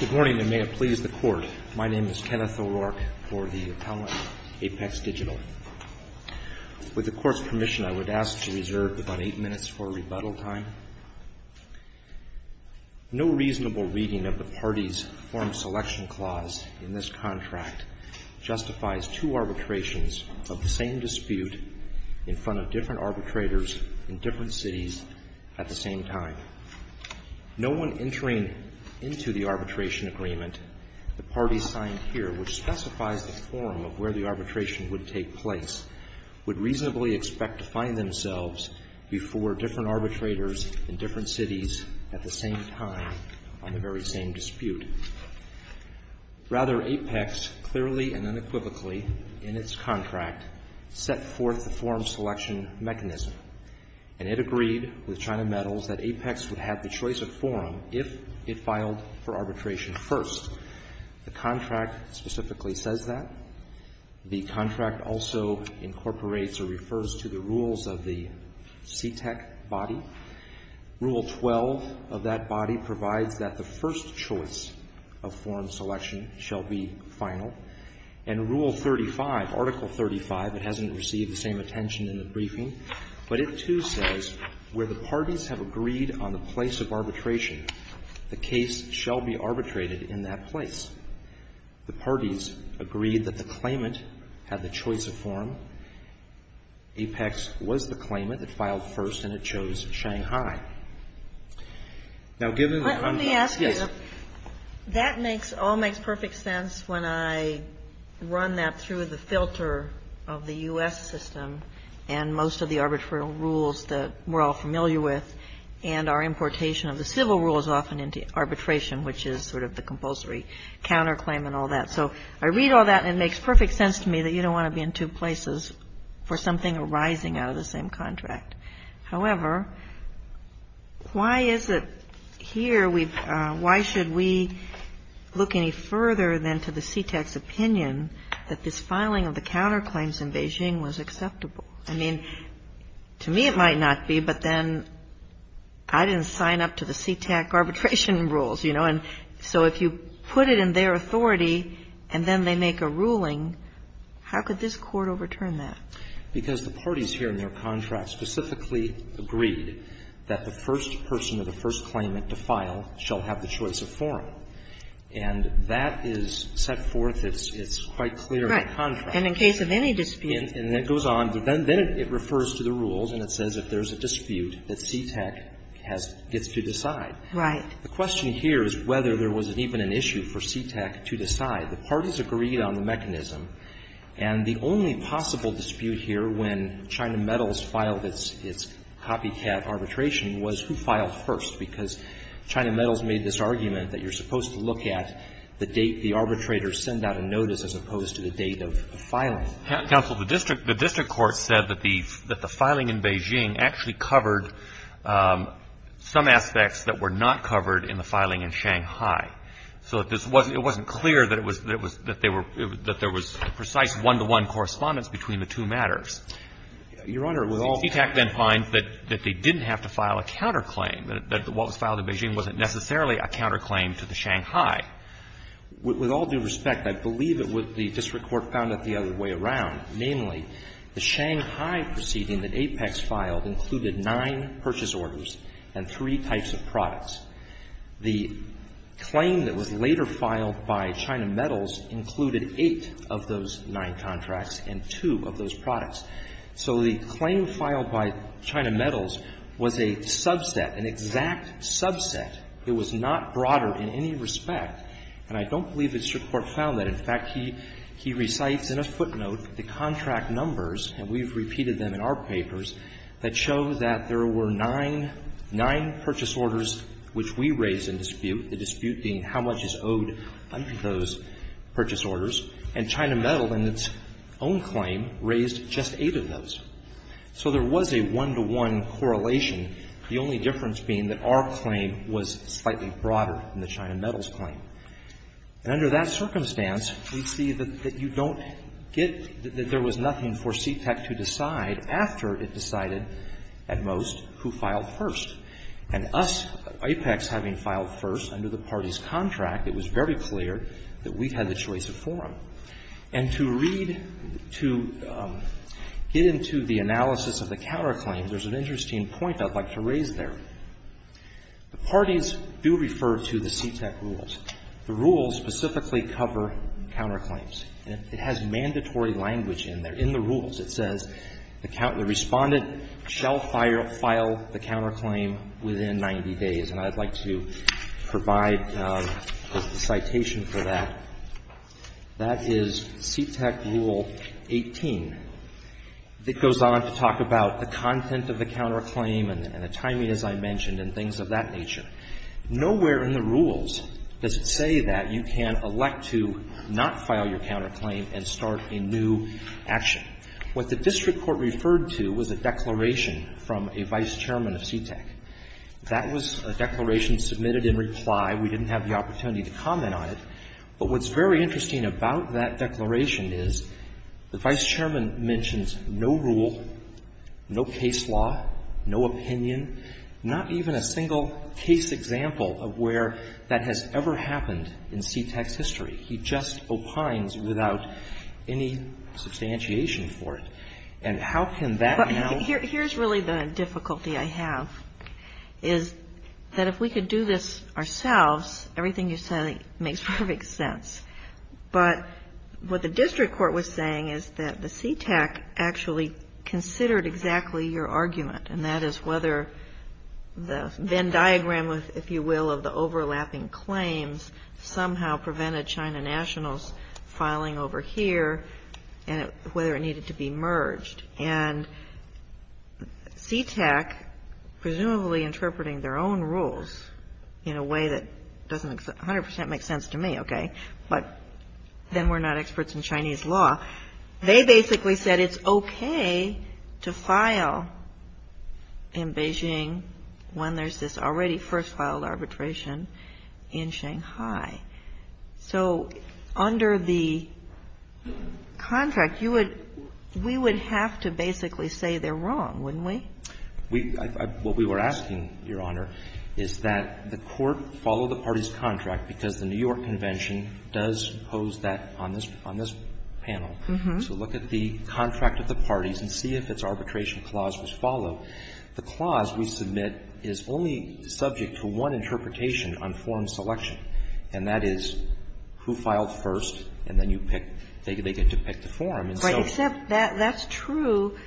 Good morning and may it please the Court. My name is Kenneth O'Rourke for the Appellant, APEX Digital. With the Court's permission, I would ask to reserve about eight minutes for rebuttal time. No reasonable reading of the parties form selection clause in this contract justifies two arbitrations of the same dispute in front of different arbitrators in different cities at the same time. No one entering into the arbitration agreement, the parties signed here, which specifies the form of where the arbitration would take place, would reasonably expect to find themselves before different arbitrators in different cities at the same time on the very same dispute. Rather, APEX clearly and unequivocally in its contract set forth the form selection mechanism, and it agreed with China Metals that APEX would have the choice of form if it filed for arbitration first. The contract specifically says that. The contract also incorporates or refers to the rules of the CTEC body. Rule 12 of that body provides that the first choice of form selection shall be final. And Rule 35, Article 35, it hasn't received the same attention in the briefing, but it, too, says where the parties have agreed on the place of arbitration, the case shall be arbitrated in that place. The parties agreed that the claimant had the choice of form. APEX was the claimant. It filed first, and it chose Shanghai. Now, given that I'm not, yes. That makes all makes perfect sense when I run that through the filter of the U.S. system and most of the arbitral rules that we're all familiar with and our importation of the civil rules often into arbitration, which is sort of the compulsory counterclaim and all that. So I read all that, and it makes perfect sense to me that you don't want to be in two places for something arising out of the same contract. However, why is it here we've – why should we look any further than to the CTEC's opinion that this filing of the counterclaims in Beijing was acceptable? I mean, to me it might not be, but then I didn't sign up to the CTEC arbitration rules, you know. And so if you put it in their authority and then they make a ruling, how could this court overturn that? Because the parties here in their contracts specifically agreed that the first person or the first claimant to file shall have the choice of forum, and that is set forth. It's quite clear in the contract. And in case of any dispute. And it goes on. Then it refers to the rules, and it says if there's a dispute that CTEC has – gets to decide. Right. The question here is whether there was even an issue for CTEC to decide. The parties agreed on the mechanism. And the only possible dispute here when China Metals filed its copycat arbitration was who filed first, because China Metals made this argument that you're supposed to look at the date the arbitrator sent out a notice as opposed to the date of filing. Counsel, the district court said that the filing in Beijing actually covered some aspects that were not covered in the filing in Shanghai. So it wasn't clear that there was precise one-to-one correspondence between the two matters. Your Honor, with all due respect. CTEC then finds that they didn't have to file a counterclaim, that what was filed in Beijing wasn't necessarily a counterclaim to the Shanghai. With all due respect, I believe the district court found it the other way around. Namely, the Shanghai proceeding that Apex filed included nine purchase orders and three types of products. The claim that was later filed by China Metals included eight of those nine contracts and two of those products. So the claim filed by China Metals was a subset, an exact subset. It was not broader in any respect. And I don't believe the district court found that. In fact, he recites in a footnote the contract numbers, and we've repeated them in our dispute, the dispute being how much is owed under those purchase orders. And China Metal, in its own claim, raised just eight of those. So there was a one-to-one correlation, the only difference being that our claim was slightly broader than the China Metals claim. And under that circumstance, we see that you don't get that there was nothing for CTEC to decide after it decided, at most, who filed first. And us, Apex, having filed first under the party's contract, it was very clear that we had the choice of forum. And to read, to get into the analysis of the counterclaim, there's an interesting point I'd like to raise there. The parties do refer to the CTEC rules. The rules specifically cover counterclaims. It has mandatory language in there. It says, the respondent shall file the counterclaim within 90 days. And I'd like to provide a citation for that. That is CTEC Rule 18. It goes on to talk about the content of the counterclaim and the timing, as I mentioned, and things of that nature. Nowhere in the rules does it say that you can elect to not file your counterclaim and start a new action. What the district court referred to was a declaration from a vice chairman of CTEC. That was a declaration submitted in reply. We didn't have the opportunity to comment on it. But what's very interesting about that declaration is the vice chairman mentions no rule, no case law, no opinion, not even a single case example of where that has ever happened in CTEC's history. He just opines without any substantiation for it. And how can that now? Here's really the difficulty I have, is that if we could do this ourselves, everything you say makes perfect sense. But what the district court was saying is that the CTEC actually considered exactly your argument, and that is whether the Venn diagram, if you will, of the filing over here and whether it needed to be merged. And CTEC, presumably interpreting their own rules in a way that doesn't 100 percent make sense to me, okay, but then we're not experts in Chinese law. They basically said it's okay to file in Beijing when there's this already first filed arbitration in Shanghai. So under the contract, you would we would have to basically say they're wrong, wouldn't we? What we were asking, Your Honor, is that the court follow the party's contract because the New York Convention does pose that on this panel. So look at the contract of the parties and see if its arbitration clause was followed. The clause we submit is only subject to one interpretation on forum selection, and that is who filed first, and then you pick, they get to pick the forum. And so you can't But except that's true,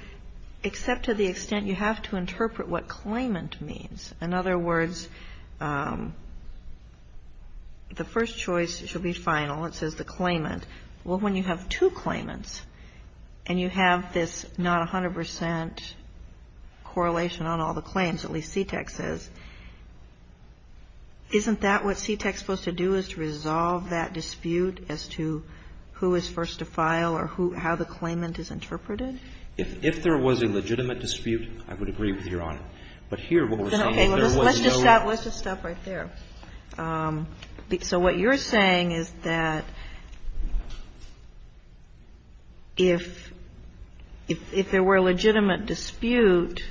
except to the extent you have to interpret what claimant means. In other words, the first choice should be final. It says the claimant. Well, when you have two claimants and you have this not 100 percent correlation on all the claims, at least CTEK says, isn't that what CTEK is supposed to do is to resolve that dispute as to who is first to file or how the claimant is interpreted? If there was a legitimate dispute, I would agree with Your Honor. But here what we're saying is there was no Let's just stop right there. So what you're saying is that if there were a legitimate dispute,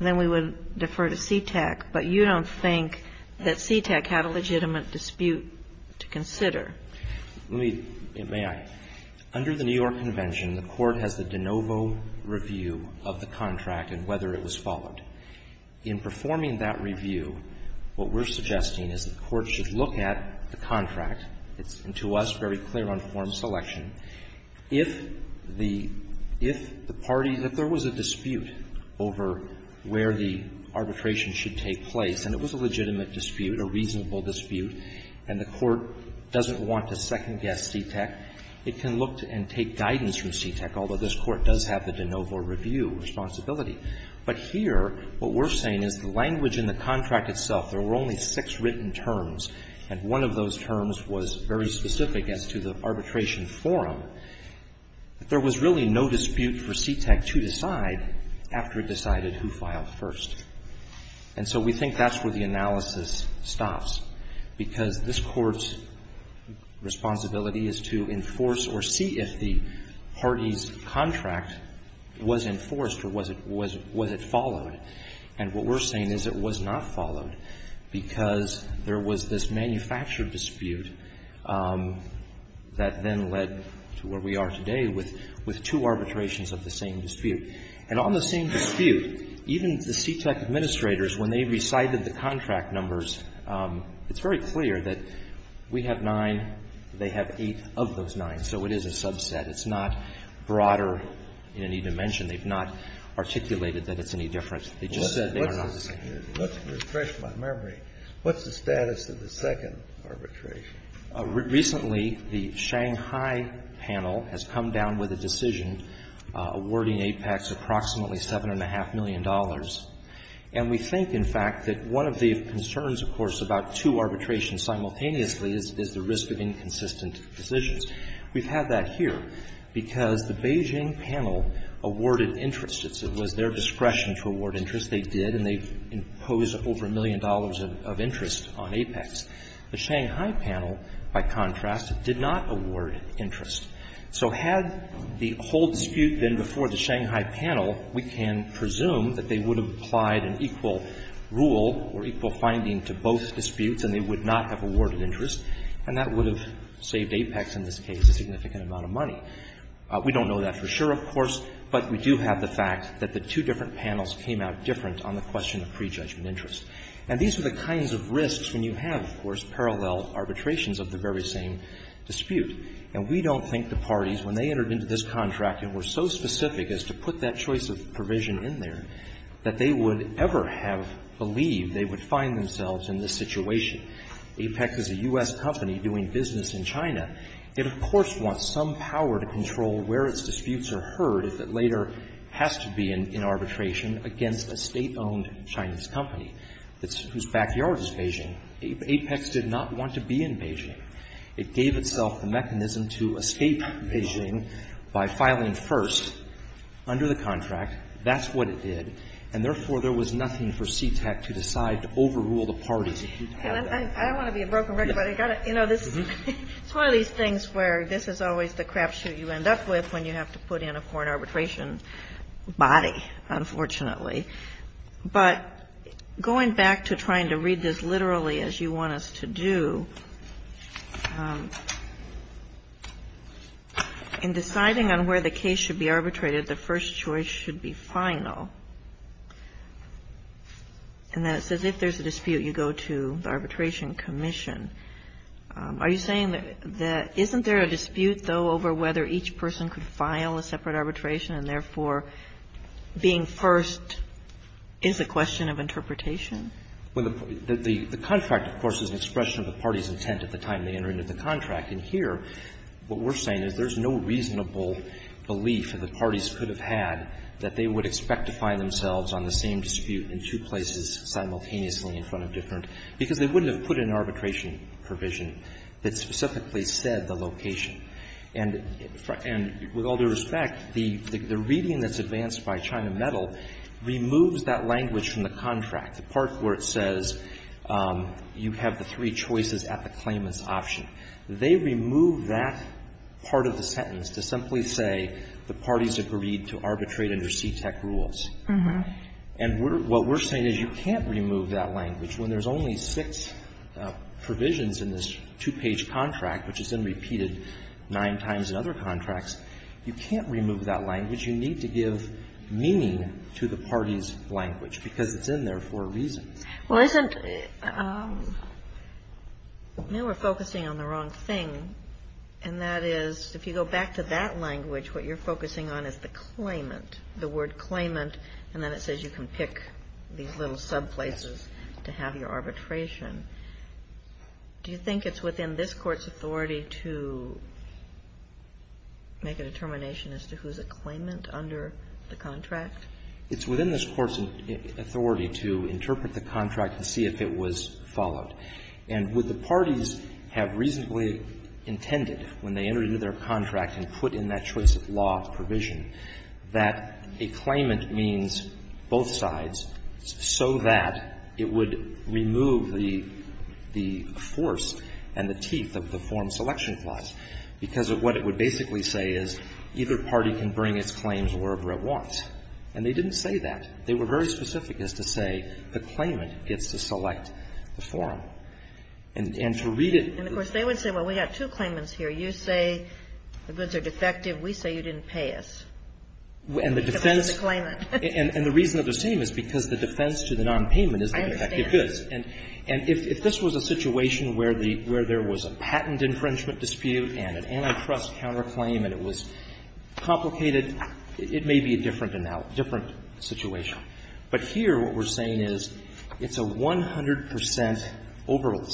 then we would defer to CTEK, but you don't think that CTEK had a legitimate dispute to consider. May I? Under the New York Convention, the Court has the de novo review of the contract and whether it was followed. In performing that review, what we're suggesting is the Court should look at the contract. It's, to us, very clear on form selection. If the party, if there was a dispute over where the arbitration should take place and it was a legitimate dispute, a reasonable dispute, and the Court doesn't want to second-guess CTEK, it can look and take guidance from CTEK, although this Court does have the de novo review responsibility. But here what we're saying is the language in the contract itself, there were only six written terms, and one of those terms was very specific as to the arbitration forum. There was really no dispute for CTEK to decide after it decided who filed first. And so we think that's where the analysis stops, because this Court's responsibility is to enforce or see if the party's contract was enforced or was it followed. And what we're saying is it was not followed because there was this manufactured dispute that then led to where we are today with two arbitrations of the same dispute. And on the same dispute, even the CTEK administrators, when they recited the contract numbers, it's very clear that we have nine, they have eight of those nine. So it is a subset. It's not broader in any dimension. They've not articulated that it's any different. They just said they are not the same. Kennedy. Let's refresh my memory. What's the status of the second arbitration? Recently, the Shanghai panel has come down with a decision awarding AIPACs approximately $7.5 million. And we think, in fact, that one of the concerns, of course, about two arbitrations simultaneously is the risk of inconsistent decisions. We've had that here because the Beijing panel awarded interest. It was their discretion to award interest. They did, and they imposed over $1 million of interest on AIPACs. The Shanghai panel, by contrast, did not award interest. So had the whole dispute been before the Shanghai panel, we can presume that they would have applied an equal rule or equal finding to both disputes, and they would not have awarded interest, and that would have saved AIPACs, in this case, a significant amount of money. We don't know that for sure, of course, but we do have the fact that the two different panels came out different on the question of prejudgment interest. And these are the kinds of risks when you have, of course, parallel arbitrations of the very same dispute. And we don't think the parties, when they entered into this contract and were so specific as to put that choice of provision in there, that they would ever have believed they would find themselves in this situation. AIPAC is a U.S. company doing business in China. It, of course, wants some power to control where its disputes are heard if it later has to be in arbitration against a State-owned Chinese company whose backyard is Beijing. AIPACs did not want to be in Beijing. It gave itself the mechanism to escape Beijing by filing first under the contract. That's what it did. And, therefore, there was nothing for CTEC to decide to overrule the parties. It didn't have that. I don't want to be a broken record, but I got to, you know, this is one of these things where this is always the crapshoot you end up with when you have to put in a foreign arbitration body, unfortunately. But going back to trying to read this literally as you want us to do, in deciding on where the case should be arbitrated, the first choice should be final. And then it says if there's a dispute, you go to the arbitration commission. Are you saying that isn't there a dispute, though, over whether each person could have been in Beijing? Is the question of interpretation? The contract, of course, is an expression of the party's intent at the time they entered into the contract. And here, what we're saying is there's no reasonable belief that the parties could have had that they would expect to find themselves on the same dispute in two places simultaneously in front of different, because they wouldn't have put an arbitration provision that specifically said the location. And with all due respect, the reading that's advanced by China Metal removes that language from the contract, the part where it says you have the three choices at the claimant's option. They remove that part of the sentence to simply say the parties agreed to arbitrate under CTEK rules. And what we're saying is you can't remove that language when there's only six provisions in this two-page contract, which is then repeated nine times in other contracts. You can't remove that language. You need to give meaning to the party's language, because it's in there for a reason. Well, isn't the --" Now we're focusing on the wrong thing, and that is, if you go back to that language, what you're focusing on is the claimant, the word claimant, and then it says you can pick these little subplaces to have your arbitration. Do you think it's within this Court's authority to make a determination as to who's a claimant under the contract? It's within this Court's authority to interpret the contract and see if it was followed. And what the parties have reasonably intended when they entered into their contract and put in that choice-of-law provision, that a claimant means both sides so that it would remove the force and the teeth of the Form Selection Clause, because what it would basically say is either party can bring its claims wherever it wants. And they didn't say that. They were very specific as to say the claimant gets to select the form. And to read it as to the form selection clause, it would say, well, we have two claimants here. You say the goods are defective. We say you didn't pay us. Because you're the claimant. And the defense of the claim is because the defense to the nonpayment is the defective goods. I understand. And if this was a situation where there was a patent infringement dispute and an antitrust counterclaim and it was complicated, it may be a different situation. But here what we're saying is it's a 100 percent overlap.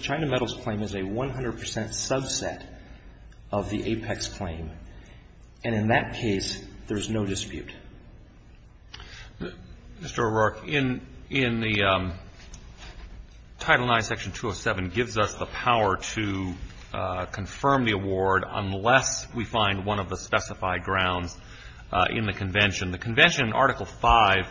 China Metals claim is a 100 percent subset of the Apex claim. And in that case, there's no dispute. Mr. O'Rourke, in the Title IX, Section 207 gives us the power to confirm the award unless we find one of the specified grounds in the convention. The convention in Article V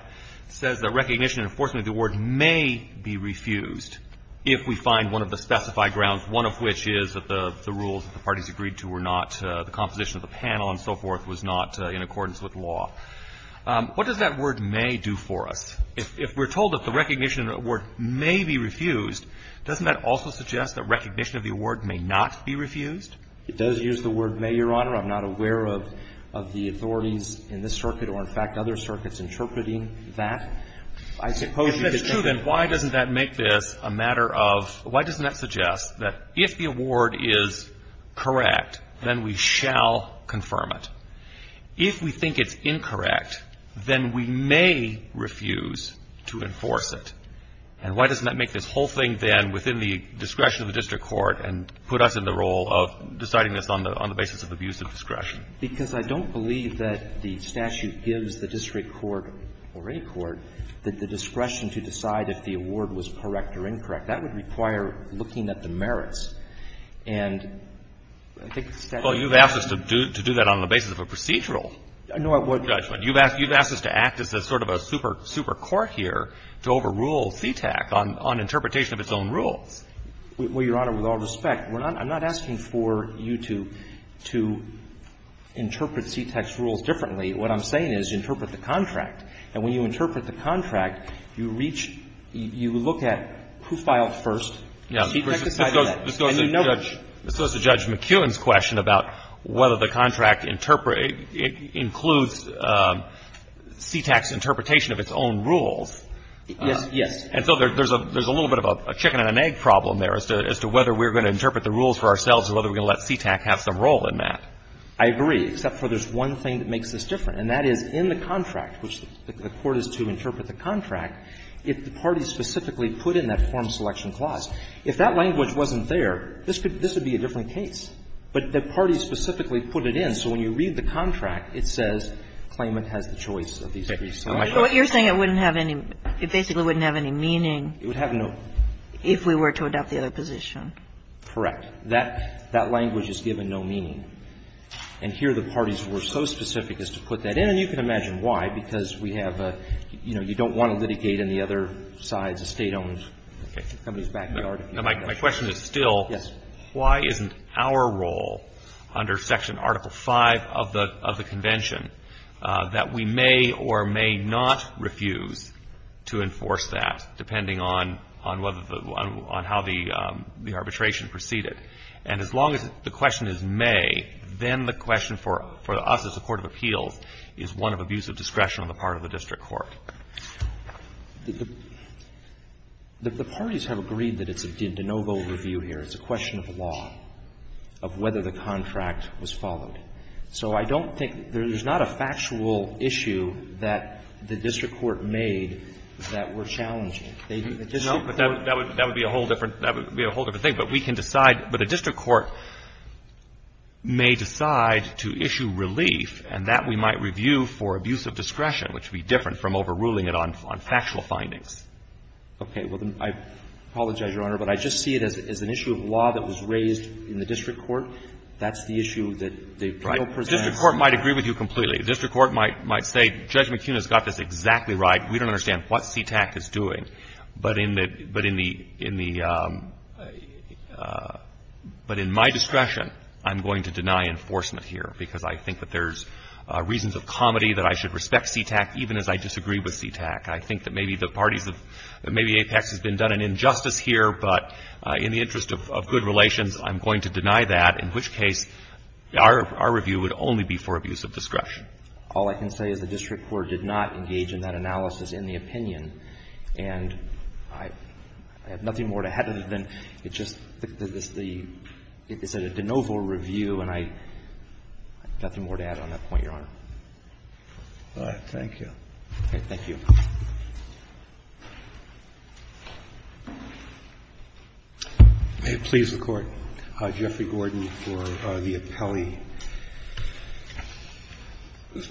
says that recognition and enforcement of the award may be refused if we find one of the specified grounds, one of which is that the rules that the parties agreed to were not the composition of the panel and so forth was not in accordance with law. What does that word may do for us? If we're told that the recognition of the award may be refused, doesn't that also suggest that recognition of the award may not be refused? It does use the word may, Your Honor. I'm not aware of the authorities in this circuit or, in fact, other circuits interpreting that. If that's true, then why doesn't that make this a matter of why doesn't that suggest that if the award is correct, then we shall confirm it? If we think it's incorrect, then we may refuse to enforce it. And why doesn't that make this whole thing then within the discretion of the district court and put us in the role of deciding this on the basis of abuse of discretion? Because I don't believe that the statute gives the district court or any court the discretion to decide if the award was correct or incorrect. That would require looking at the merits. And I think the statute doesn't. Well, you've asked us to do that on the basis of a procedural judgment. You've asked us to act as sort of a super court here to overrule CTAC on interpretation of its own rules. Well, Your Honor, with all respect, we're not – I'm not asking for you to interpret What I'm saying is interpret the contract. And when you interpret the contract, you reach – you look at who filed first, CTAC decided that, and you know that. This goes to Judge McKeown's question about whether the contract includes CTAC's interpretation of its own rules. Yes. And so there's a little bit of a chicken-and-an-egg problem there as to whether we're going to interpret the rules for ourselves or whether we're going to let CTAC have some role in that. I agree, except for there's one thing that makes this different, and that is in the case that the court is to interpret the contract, if the parties specifically put in that form selection clause, if that language wasn't there, this could – this would be a different case. But the parties specifically put it in, so when you read the contract, it says claimant has the choice of these three slides. But you're saying it wouldn't have any – it basically wouldn't have any meaning. It would have no – If we were to adopt the other position. Correct. That language is given no meaning. And here the parties were so specific as to put that in, and you can imagine why, because we have a – you know, you don't want to litigate on the other sides, a State-owned company's backyard. Now, my question is still, why isn't our role under Section Article V of the Convention that we may or may not refuse to enforce that, depending on whether the – on how the arbitration proceeded? And as long as the question is may, then the question for us as a court of appeals is one of abuse of discretion on the part of the district court. The parties have agreed that it's a de novo review here. It's a question of law, of whether the contract was followed. So I don't think – there's not a factual issue that the district court made that were challenging. No, but that would be a whole different – that would be a whole different But we can decide – but a district court may decide to issue relief, and that we might review for abuse of discretion, which would be different from overruling it on factual findings. Okay. Well, then I apologize, Your Honor, but I just see it as an issue of law that was raised in the district court. That's the issue that the Criteral presents. The district court might agree with you completely. The district court might say, Judge McKeon has got this exactly right. We don't understand what CTAC is doing. But in the – but in the – but in my discretion, I'm going to deny enforcement here, because I think that there's reasons of comedy that I should respect CTAC, even as I disagree with CTAC. I think that maybe the parties have – that maybe Apex has been done an injustice here, but in the interest of good relations, I'm going to deny that, in which case our review would only be for abuse of discretion. All I can say is the district court did not engage in that analysis in the opinion, and I have nothing more to add other than it's just the – it's a de novo review, and I have nothing more to add on that point, Your Honor. All right. Thank you. Okay. Thank you. May it please the Court. Jeffrey Gordon for the appellee.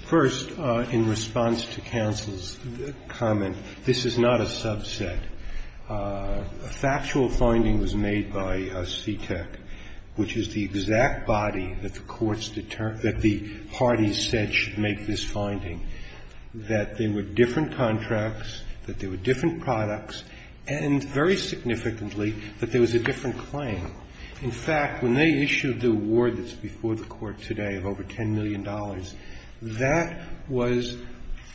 First, in response to counsel's comment, this is not a subset. A factual finding was made by CTAC, which is the exact body that the courts – that the parties said should make this finding, that there were different contracts, that there were different products, and very significantly, that there was a different claim. In fact, when they issued the award that's before the Court today of over $10 million, that was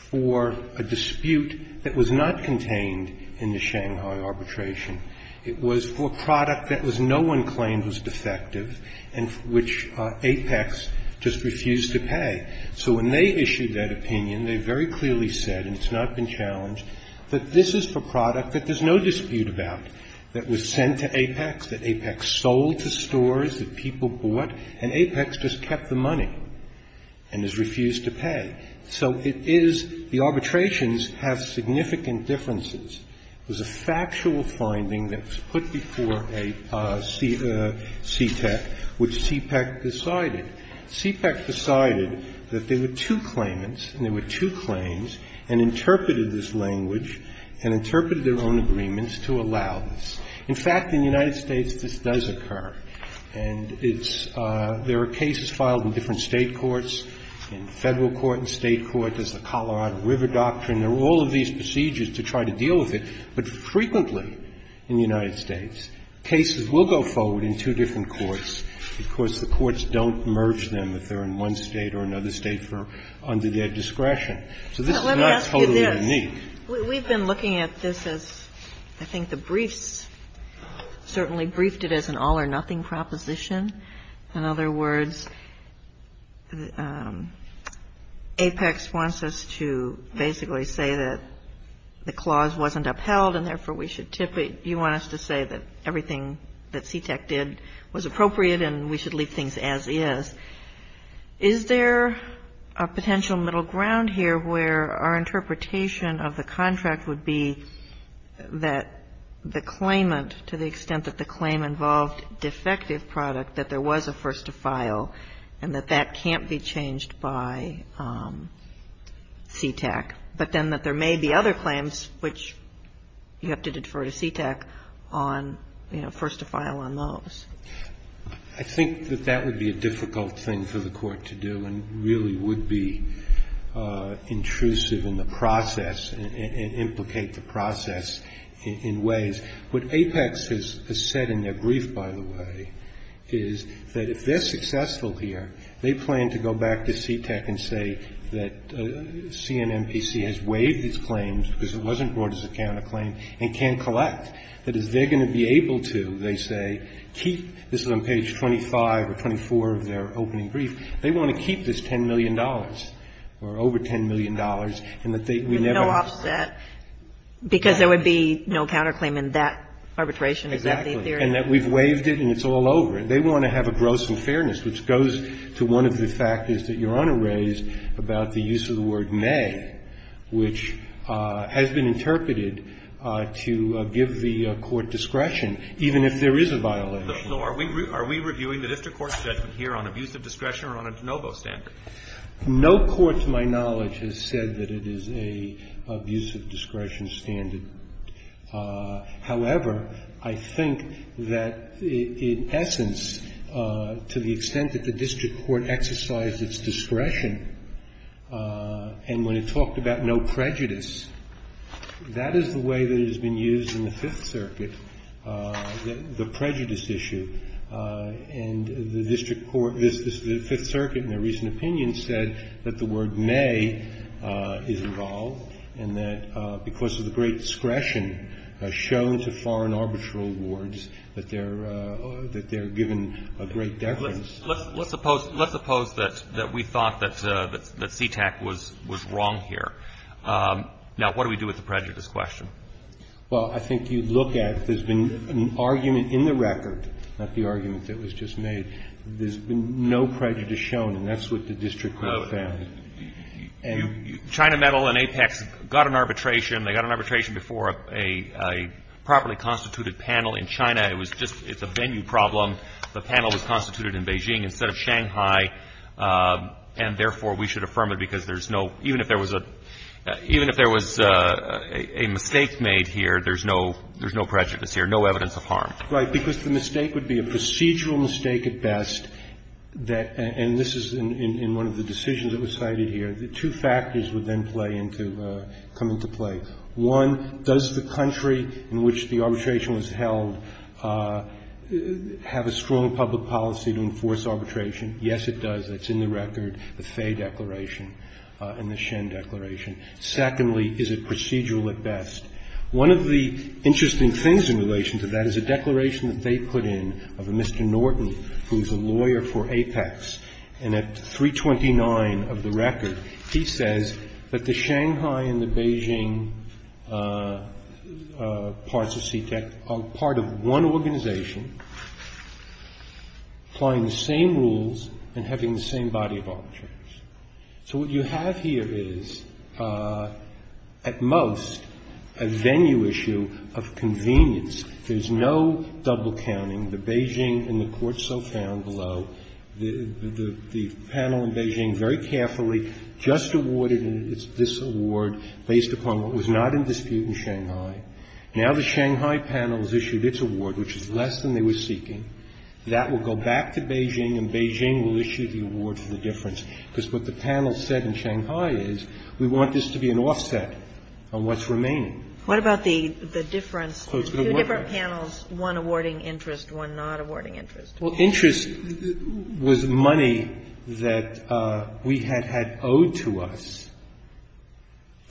for a dispute that was not contained in the Shanghai arbitration. It was for a product that was – no one claimed was defective and which Apex just refused to pay. So when they issued that opinion, they very clearly said, and it's not been challenged, that this is for a product that there's no dispute about, that was sent to Apex, that Apex sold to stores that people bought, and Apex just kept the money and has refused to pay. So it is – the arbitrations have significant differences. It was a factual finding that was put before a CTAC, which CPEC decided. CPEC decided that there were two claimants and there were two claims, and interpreted this language and interpreted their own agreements to allow this. In fact, in the United States, this does occur. And it's – there are cases filed in different State courts, in Federal court and State court. There's the Colorado River Doctrine. There are all of these procedures to try to deal with it, but frequently in the United States, cases will go forward in two different courts because the courts don't merge them if they're in one State or another State for – under their discretion. So this is not totally unique. So let me ask you this. We've been looking at this as – I think the briefs certainly briefed it as an all-or-nothing proposition. In other words, Apex wants us to basically say that the clause wasn't upheld and therefore we should tip it. You want us to say that everything that CTAC did was appropriate and we should leave things as is. Is there a potential middle ground here where our interpretation of the contract would be that the claimant, to the extent that the claim involved defective product, that there was a first-to-file and that that can't be changed by CTAC, but then that there may be other claims which you have to defer to CTAC on, you know, first-to-file on those? I think that that would be a difficult thing for the Court to do and really would be intrusive in the process and implicate the process in ways. What Apex has said in their brief, by the way, is that if they're successful here, they plan to go back to CTAC and say that CNMPC has waived its claims because it wasn't brought as a counterclaim and can't collect. That is, they're going to be able to, they say, keep, this is on page 25 or 24 of their opening brief, they want to keep this $10 million or over $10 million and that they would never. But no offset? Because there would be no counterclaim in that arbitration? Is that the theory? Exactly. And that we've waived it and it's all over. And they want to have a gross and fairness, which goes to one of the factors that may, which has been interpreted to give the Court discretion, even if there is a violation. So are we reviewing the district court's judgment here on abuse of discretion or on a de novo standard? No court, to my knowledge, has said that it is an abuse of discretion standard. However, I think that in essence, to the extent that the district court exercised its discretion and when it talked about no prejudice, that is the way that it has been used in the Fifth Circuit, the prejudice issue. And the district court, the Fifth Circuit in their recent opinion said that the word may is involved and that because of the great discretion shown to foreign arbitral wards that they're given a great deference. Let's suppose that we thought that CTAC was wrong here. Now, what do we do with the prejudice question? Well, I think you'd look at if there's been an argument in the record, not the argument that was just made, there's been no prejudice shown and that's what the district court found. China Metal and Apex got an arbitration. They got an arbitration before a properly constituted panel in China. It was just a venue problem. The panel was constituted in Beijing instead of Shanghai. And therefore, we should affirm it because there's no – even if there was a – even if there was a mistake made here, there's no prejudice here, no evidence of harm. Right. Because the mistake would be a procedural mistake at best that – and this is in one of the decisions that was cited here. The two factors would then play into – come into play. One, does the country in which the arbitration was held have a strong public policy to enforce arbitration? Yes, it does. That's in the record, the Faye Declaration and the Shen Declaration. Secondly, is it procedural at best? One of the interesting things in relation to that is a declaration that they put in of a Mr. Norton who is a lawyer for Apex. And at 329 of the record, he says that the Shanghai and the Beijing parts of CTEC are part of one organization, applying the same rules and having the same body of arbitration. So what you have here is, at most, a venue issue of convenience. There's no double counting. The Beijing and the courts so found below, the panel in Beijing very carefully just awarded this award based upon what was not in dispute in Shanghai. Now the Shanghai panel has issued its award, which is less than they were seeking. That will go back to Beijing and Beijing will issue the award for the difference because what the panel said in Shanghai is we want this to be an offset on what's remaining. What about the difference? Two different panels, one awarding interest, one not awarding interest. Well, interest was money that we had had owed to us.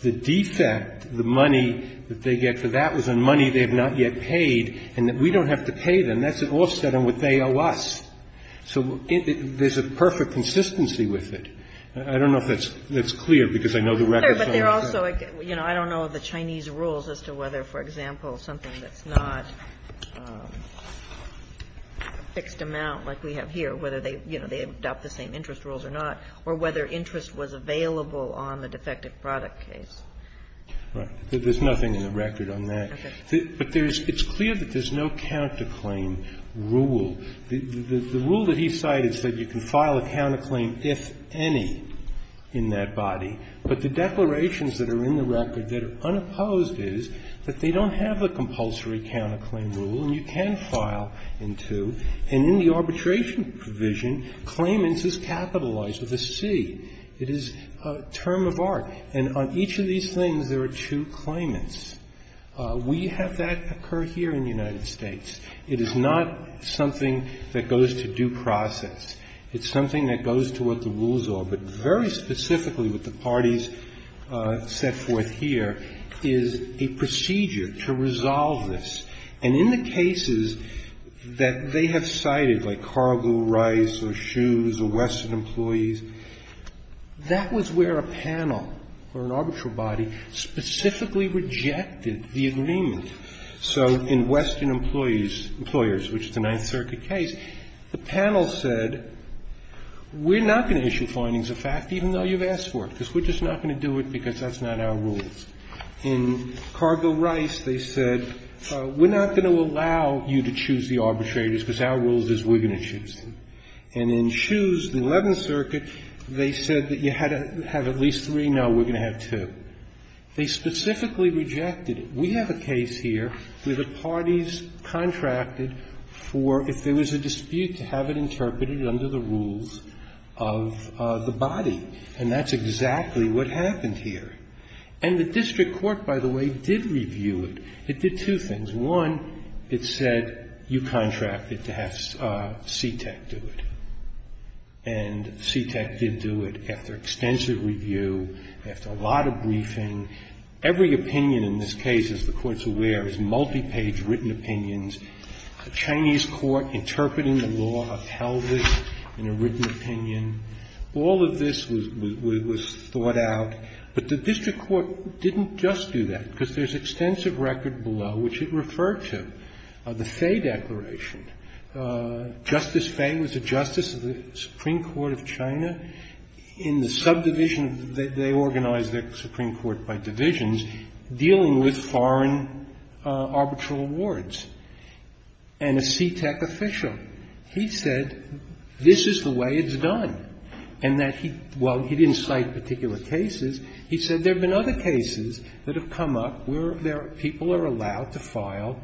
The defect, the money that they get for that was money they have not yet paid and that we don't have to pay them. That's an offset on what they owe us. So there's a perfect consistency with it. I don't know if that's clear because I know the records aren't clear. I don't know the Chinese rules as to whether, for example, something that's not a fixed amount like we have here, whether they adopt the same interest rules or not, or whether interest was available on the defective product case. Right. There's nothing in the record on that. But it's clear that there's no counterclaim rule. The rule that he cited said you can file a counterclaim if any in that body, but the declarations that are in the record that are unopposed is that they don't have a compulsory counterclaim rule and you can file in two. And in the arbitration provision, claimants is capitalized with a C. It is a term of art. And on each of these things there are two claimants. We have that occur here in the United States. It is not something that goes to due process. It's something that goes to what the rules are. But very specifically what the parties set forth here is a procedure to resolve this. And in the cases that they have cited, like Cargill Rice or Shoes or Western Employees, that was where a panel or an arbitral body specifically rejected the agreement. So in Western Employees, Employers, which is a Ninth Circuit case, the panel said we're not going to issue findings of fact, even though you've asked for it, because we're just not going to do it because that's not our rules. In Cargill Rice, they said we're not going to allow you to choose the arbitrators because our rule is we're going to choose them. And in Shoes, the Eleventh Circuit, they said that you had to have at least three. No, we're going to have two. They specifically rejected it. We have a case here where the parties contracted for, if there was a dispute, to have it interpreted under the rules of the body. And that's exactly what happened here. And the district court, by the way, did review it. It did two things. One, it said you contracted to have CTEC do it. And CTEC did do it after extensive review, after a lot of briefing. And every opinion in this case, as the Court's aware, is multi-page written opinions. A Chinese court interpreting the law upheld this in a written opinion. All of this was thought out. But the district court didn't just do that, because there's extensive record below which it referred to, the Fay Declaration. Justice Fay was a justice of the Supreme Court of China. In the subdivision, they organized the Supreme Court by divisions, dealing with foreign arbitral awards. And a CTEC official, he said this is the way it's done. And that he, while he didn't cite particular cases, he said there have been other cases that have come up where people are allowed to file,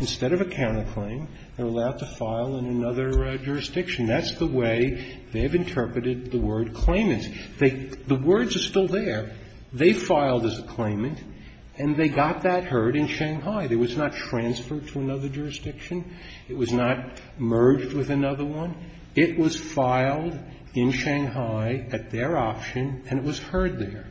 instead of a counterclaim, they're allowed to file in another jurisdiction. That's the way they have interpreted the word claimants. The words are still there. They filed as a claimant, and they got that heard in Shanghai. It was not transferred to another jurisdiction. It was not merged with another one. It was filed in Shanghai at their option, and it was heard there.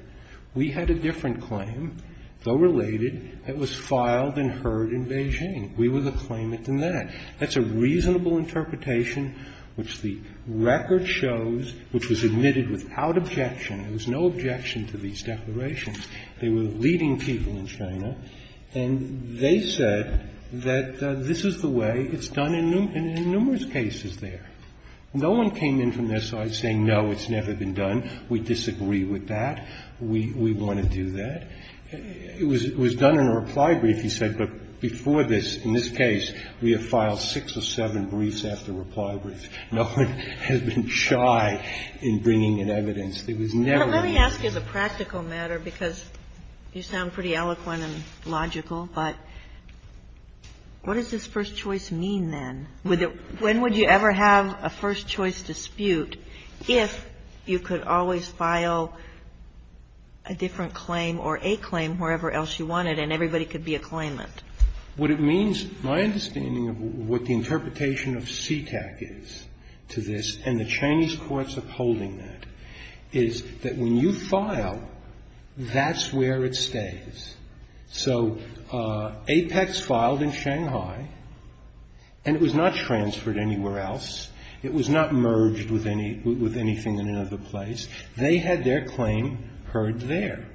We had a different claim, though related, that was filed and heard in Beijing. We were the claimant in that. That's a reasonable interpretation, which the record shows, which was admitted without objection. There was no objection to these declarations. They were leading people in China, and they said that this is the way it's done in numerous cases there. No one came in from their side saying, no, it's never been done. We disagree with that. We want to do that. It was done in a reply brief. He said, but before this, in this case, we have filed six or seven briefs after reply brief. No one has been shy in bringing in evidence. It was never done. Kagan. Let me ask you as a practical matter, because you sound pretty eloquent and logical, but what does this first choice mean, then? When would you ever have a first choice dispute if you could always file a different claim or a claim wherever else you wanted and everybody could be a claimant? What it means, my understanding of what the interpretation of CTAC is to this, and the Chinese courts upholding that, is that when you file, that's where it stays. So Apex filed in Shanghai, and it was not transferred anywhere else. It was not merged with anything in another place. They had their claim heard there.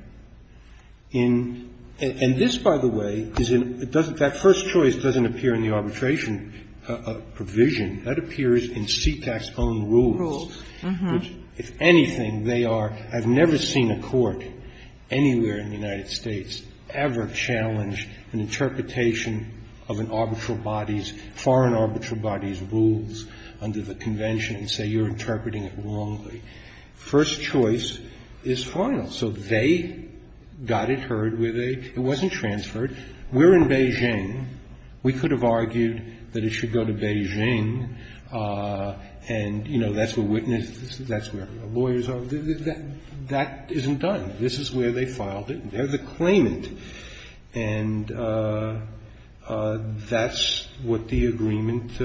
In – and this, by the way, is in – it doesn't – that first choice doesn't appear in the arbitration provision. That appears in CTAC's own rules. If anything, they are – I've never seen a court anywhere in the United States ever challenge an interpretation of an arbitral body's, foreign arbitral body's rules under the Convention and say you're interpreting it wrongly. First choice is final. So they got it heard where they – it wasn't transferred. We're in Beijing. We could have argued that it should go to Beijing, and, you know, that's where witnesses – that's where lawyers are. That isn't done. This is where they filed it. They're the claimant. And that's what the agreement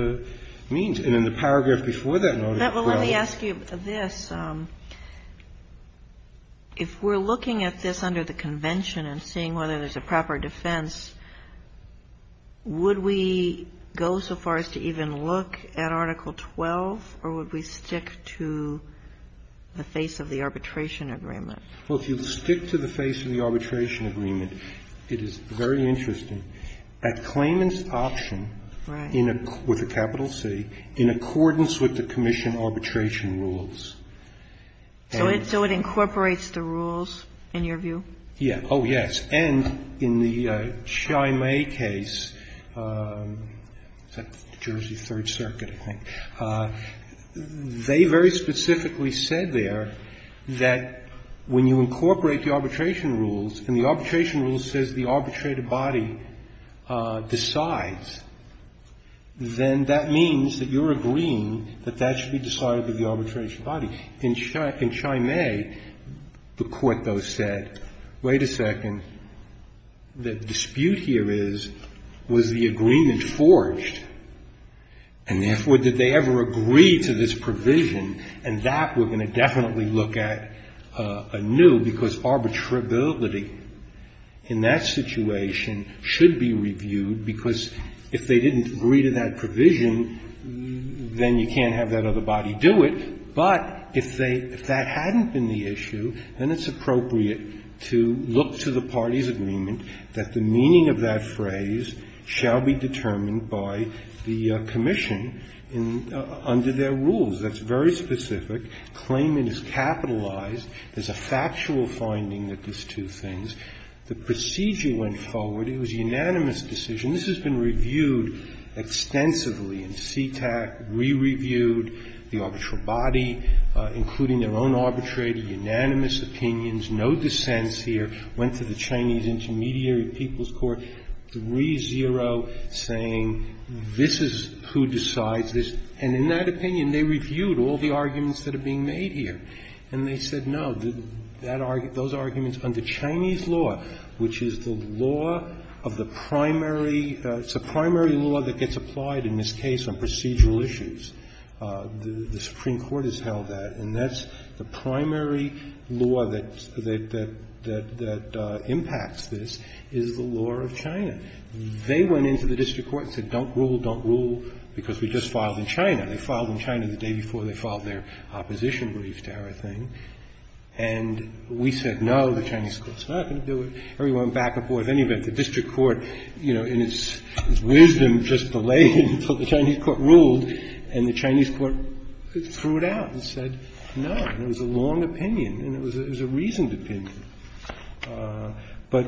means. And in the paragraph before that notice, well – And if we're looking at this under the Convention and seeing whether there's a proper defense, would we go so far as to even look at Article 12, or would we stick to the face of the arbitration agreement? Well, if you stick to the face of the arbitration agreement, it is very interesting. A claimant's option with a capital C in accordance with the commission arbitration rules. So it incorporates the rules, in your view? Yeah. Oh, yes. And in the Chi-Mei case, the Jersey Third Circuit, I think, they very specifically said there that when you incorporate the arbitration rules, and the arbitration rule says the arbitrated body decides, then that means that you're agreeing that that should be decided by the arbitration body. In Chi-Mei, the court, though, said, wait a second. The dispute here is, was the agreement forged? And therefore, did they ever agree to this provision? And that we're going to definitely look at anew, because arbitrability in that situation should be reviewed, because if they didn't agree to that provision, then you can't have that other body do it. But if they – if that hadn't been the issue, then it's appropriate to look to the party's agreement that the meaning of that phrase shall be determined by the commission in – under their rules. That's very specific. Claimant is capitalized. There's a factual finding that there's two things. The procedure went forward. It was a unanimous decision. This has been reviewed extensively in CTAC, re-reviewed. The arbitral body, including their own arbitrator, unanimous opinions, no dissents here, went to the Chinese Intermediary People's Court, 3-0, saying this is who decides this. And in that opinion, they reviewed all the arguments that are being made here. And they said, no, those arguments under Chinese law, which is the law of the primary – it's a primary law that gets applied in this case on procedural issues. The Supreme Court has held that. And that's the primary law that impacts this is the law of China. They went into the district court and said, don't rule, don't rule, because we just filed in China. They filed in China the day before they filed their opposition brief to our thing. And we said, no, the Chinese court's not going to do it. Everyone back and forth. Anyway, the district court, you know, in its wisdom, just delayed until the Chinese court ruled, and the Chinese court threw it out and said, no. And it was a long opinion. And it was a reasoned opinion. But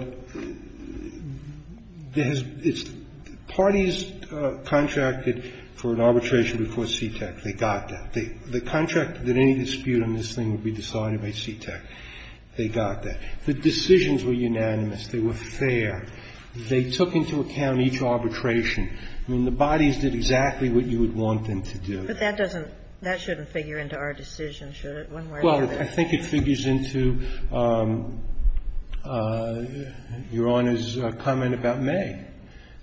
there has been – parties contracted for an arbitration before CTEC. They got that. They contracted that any dispute on this thing would be decided by CTEC. They got that. The decisions were unanimous. They were fair. They took into account each arbitration. I mean, the bodies did exactly what you would want them to do. Kagan. But that doesn't – that shouldn't figure into our decision, should it? Well, I think it figures into Your Honor's comment about may.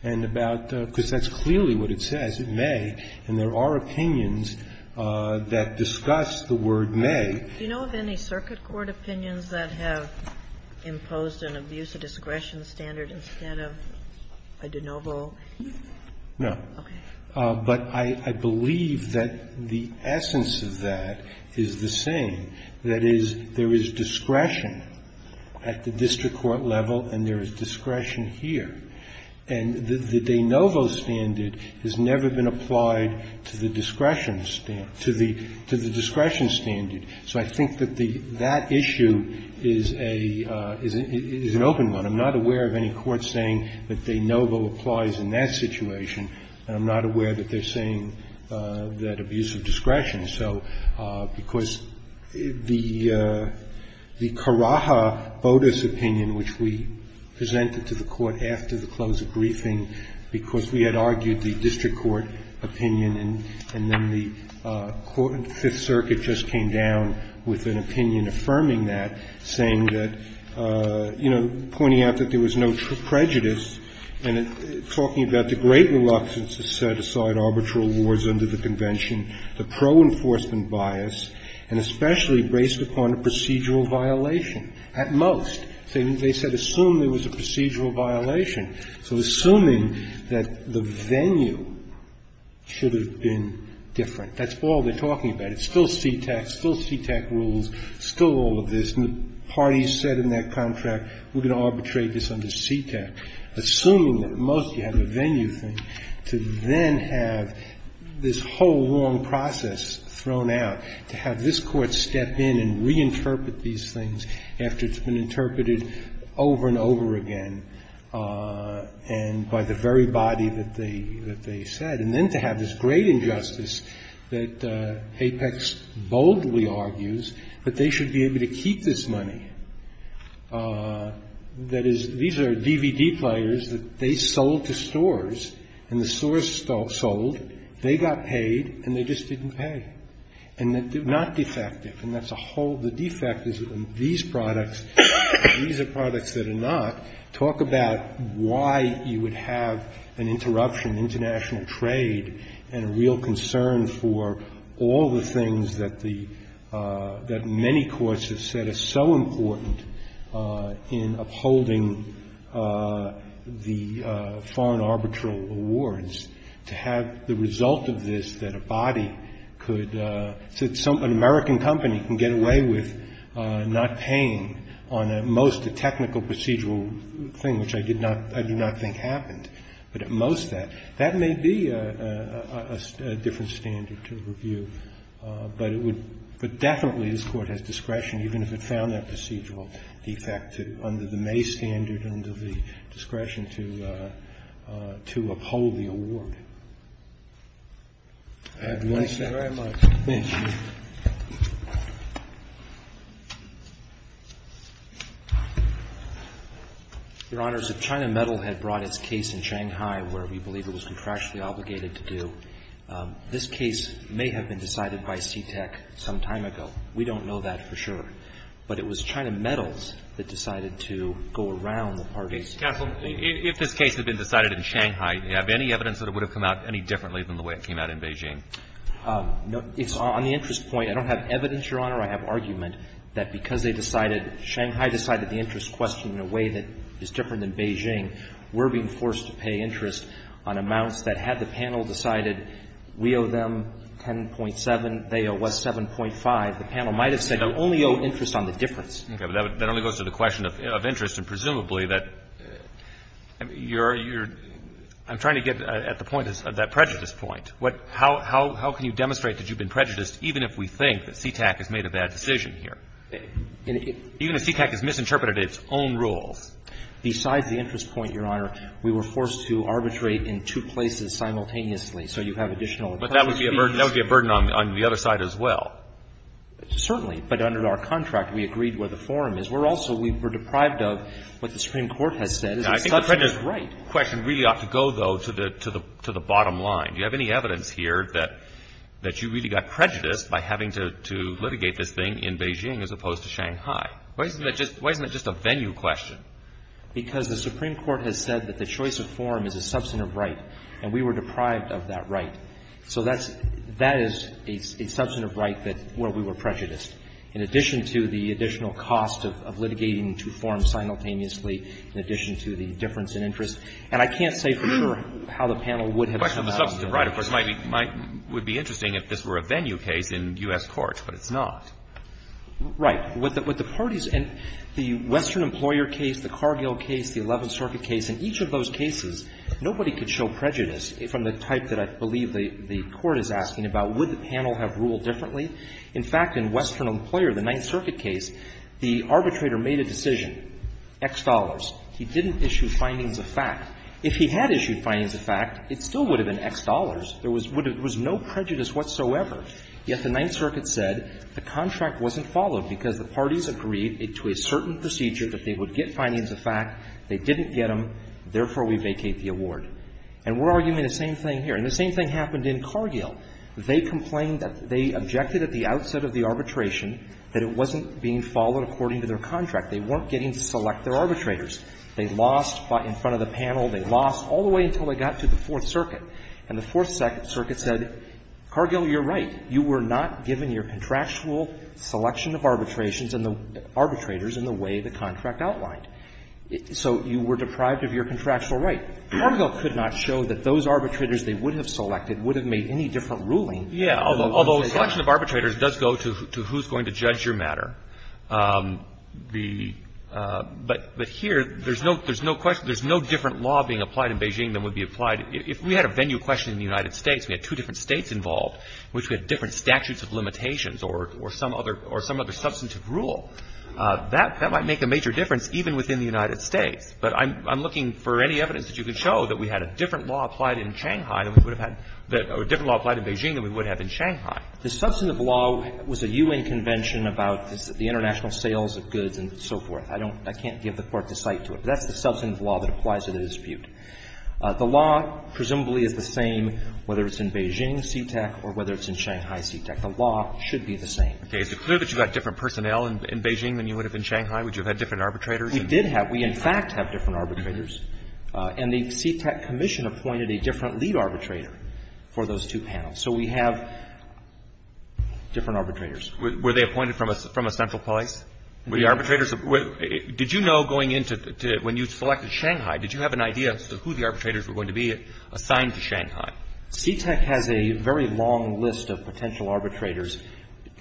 And about – because that's clearly what it says, it may. And there are opinions that discuss the word may. Do you know of any circuit court opinions that have imposed an abuse of discretion standard instead of a de novo? No. Okay. But I believe that the essence of that is the same, that is, there is discretion at the district court level and there is discretion here. And the de novo standard has never been applied to the discretion standard. So I think that the – that issue is a – is an open one. I'm not aware of any court saying that de novo applies in that situation. And I'm not aware that they're saying that abuse of discretion. So – because the – the Karaha bonus opinion, which we presented to the court after the close of briefing because we had argued the district court opinion and then the court in the Fifth Circuit just came down with an opinion affirming that saying that, you know, pointing out that there was no prejudice and talking about the great reluctance to set aside arbitral awards under the Convention, the pro-enforcement bias, and especially based upon a procedural violation, at most. They said assume there was a procedural violation. So assuming that the venue should have been different. That's all they're talking about. It's still CTEK, still CTEK rules, still all of this. And the parties said in that contract, we're going to arbitrate this under CTEK. Assuming that, at most, you have a venue thing, to then have this whole long process thrown out, to have this Court step in and reinterpret these things after it's been interpreted over and over again and by the very body that they – that they said, and then to have this great injustice that Apex boldly argues that they should be able to keep this money. That is, these are DVD players that they sold to stores, and the stores sold. They got paid, and they just didn't pay. And they're not defective. And that's a whole – the defect is that these products – these are products that are not. Talk about why you would have an interruption in international trade and a real concern for all the things that the – that many courts have said are so important in upholding the foreign arbitral awards, to have the result of this that a body could – an American company can get away with not paying on, at most, a technical procedural thing, which I did not – I do not think happened. But at most that – that may be a different standard to review, but it would – but definitely this Court has discretion, even if it found that procedural defect, to – under the May standard, under the discretion to – to uphold the award. I have one second. Thank you very much. Thank you. Your Honors, if China Metal had brought its case in Shanghai, where we believe it was contractually obligated to do, this case may have been decided by CTEC some time ago. We don't know that for sure. But it was China Metal that decided to go around the parties. Counsel, if this case had been decided in Shanghai, do you have any evidence that it would have come out any differently than the way it came out in Beijing? No. It's on the interest point. I don't have evidence, Your Honor. I have argument that because they decided – Shanghai decided the interest question in a way that is different than Beijing, we're being forced to pay interest on amounts that had the panel decided we owe them 10.7, they owe us 7.5, the panel might have said we only owe interest on the difference. Okay. But that only goes to the question of interest, and presumably that you're – you're – I'm trying to get at the point, that prejudice point. What – how – how can you demonstrate that you've been prejudiced even if we think that CTEC has made a bad decision here? Even if CTEC has misinterpreted its own rules. Besides the interest point, Your Honor, we were forced to arbitrate in two places simultaneously, so you have additional – But that would be a burden on the other side as well. Certainly. But under our contract, we agreed where the forum is. We're also – we were deprived of what the Supreme Court has said. I think the prejudice question really ought to go, though, to the – to the bottom line. Do you have any evidence here that – that you really got prejudiced by having to – to litigate this thing in Beijing as opposed to Shanghai? Why isn't that just – why isn't that just a venue question? Because the Supreme Court has said that the choice of forum is a substantive right, and we were deprived of that right. So that's – that is a substantive right that – where we were prejudiced, in addition to the additional cost of – of litigating two forums simultaneously, in addition to the difference in interest. And I can't say for sure how the panel would have settled on that. The question of the substantive right, of course, might be – might – would be interesting if this were a venue case in U.S. courts, but it's not. Right. What the – what the parties – and the Western Employer case, the Cargill case, the Eleventh Circuit case, in each of those cases, nobody could show prejudice from the type that I believe the – the Court is asking about. Would the panel have ruled differently? In fact, in Western Employer, the Ninth Circuit case, the arbitrator made a decision, X dollars. He didn't issue findings of fact. If he had issued findings of fact, it still would have been X dollars. There was – there was no prejudice whatsoever. Yet the Ninth Circuit said the contract wasn't followed because the parties agreed to a certain procedure that they would get findings of fact. They didn't get them. Therefore, we vacate the award. And we're arguing the same thing here. And the same thing happened in Cargill. They complained that – they objected at the outset of the arbitration that it wasn't being followed according to their contract. They weren't getting to select their arbitrators. They lost in front of the panel. They lost all the way until they got to the Fourth Circuit. And the Fourth Circuit said, Cargill, you're right. You were not given your contractual selection of arbitrations and the arbitrators in the way the contract outlined. So you were deprived of your contractual right. Cargill could not show that those arbitrators they would have selected would have made any different ruling. Yeah. Although selection of arbitrators does go to who's going to judge your matter. The – but here, there's no question – there's no different law being applied in Beijing than would be applied – if we had a venue question in the United States, we had two different states involved in which we had different statutes of limitations or some other substantive rule, that might make a major difference even within the United States. But I'm looking for any evidence that you can show that we had a different law applied in Shanghai than we would have had – or a different law applied in Beijing than we would have in Shanghai. The substantive law was a U.N. convention about the international sales of goods and so forth. I don't – I can't give the Court the cite to it. But that's the substantive law that applies to the dispute. The law presumably is the same whether it's in Beijing, CTEC, or whether it's in Shanghai, CTEC. The law should be the same. Okay. Is it clear that you got different personnel in Beijing than you would have in Shanghai? Would you have had different arbitrators? We did have – we, in fact, have different arbitrators. And the CTEC commission appointed a different lead arbitrator for those two panels. So we have different arbitrators. Were they appointed from a central place? Were the arbitrators – did you know going into – when you selected Shanghai, did you have an idea as to who the arbitrators were going to be assigned to Shanghai? CTEC has a very long list of potential arbitrators.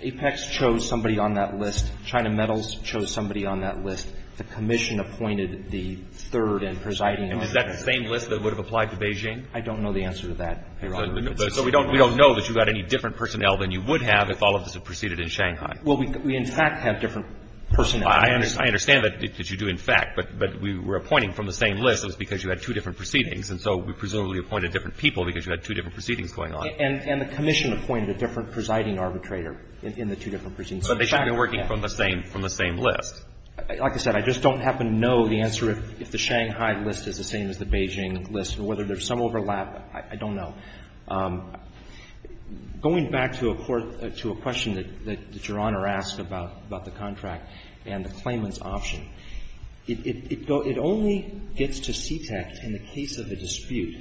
Apex chose somebody on that list. China Metals chose somebody on that list. The commission appointed the third and presiding arbitrator. Is that the same list that would have applied to Beijing? I don't know the answer to that, Your Honor. So we don't know that you got any different personnel than you would have if all of this had proceeded in Shanghai. Well, we, in fact, have different personnel. I understand that you do, in fact. But we were appointing from the same list. It was because you had two different proceedings. And so we presumably appointed different people because you had two different proceedings going on. And the commission appointed a different presiding arbitrator in the two different proceedings. But they should have been working from the same list. Like I said, I just don't happen to know the answer if the Shanghai list is the same as the Beijing list. And whether there's some overlap, I don't know. Going back to a question that Your Honor asked about the contract and the claimant's option, it only gets to CTEC in the case of a dispute.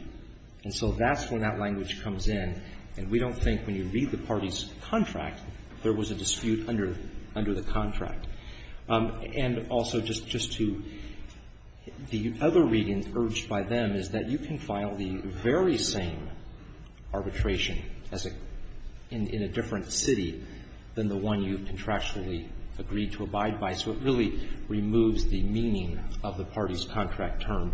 And so that's when that language comes in. And we don't think when you read the party's contract there was a dispute under the contract. And also, just to the other readings urged by them is that you can file the very same arbitration as a — in a different city than the one you contractually agreed to abide by. So it really removes the meaning of the party's contract term.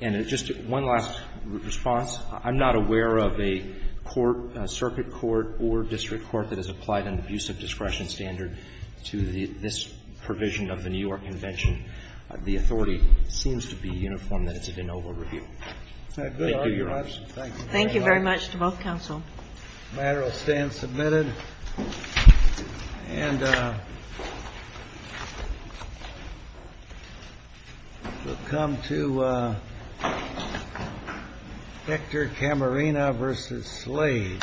And just one last response. I'm not aware of a court, a circuit court or district court that has applied an abusive discretion standard to this provision of the New York Convention. The authority seems to be uniform that it's a de novo review. Thank you, Your Honor. Thank you very much. Thank you very much to both counsel. The matter will stand submitted. And we'll come to Hector Camarena versus Slade. Thank you.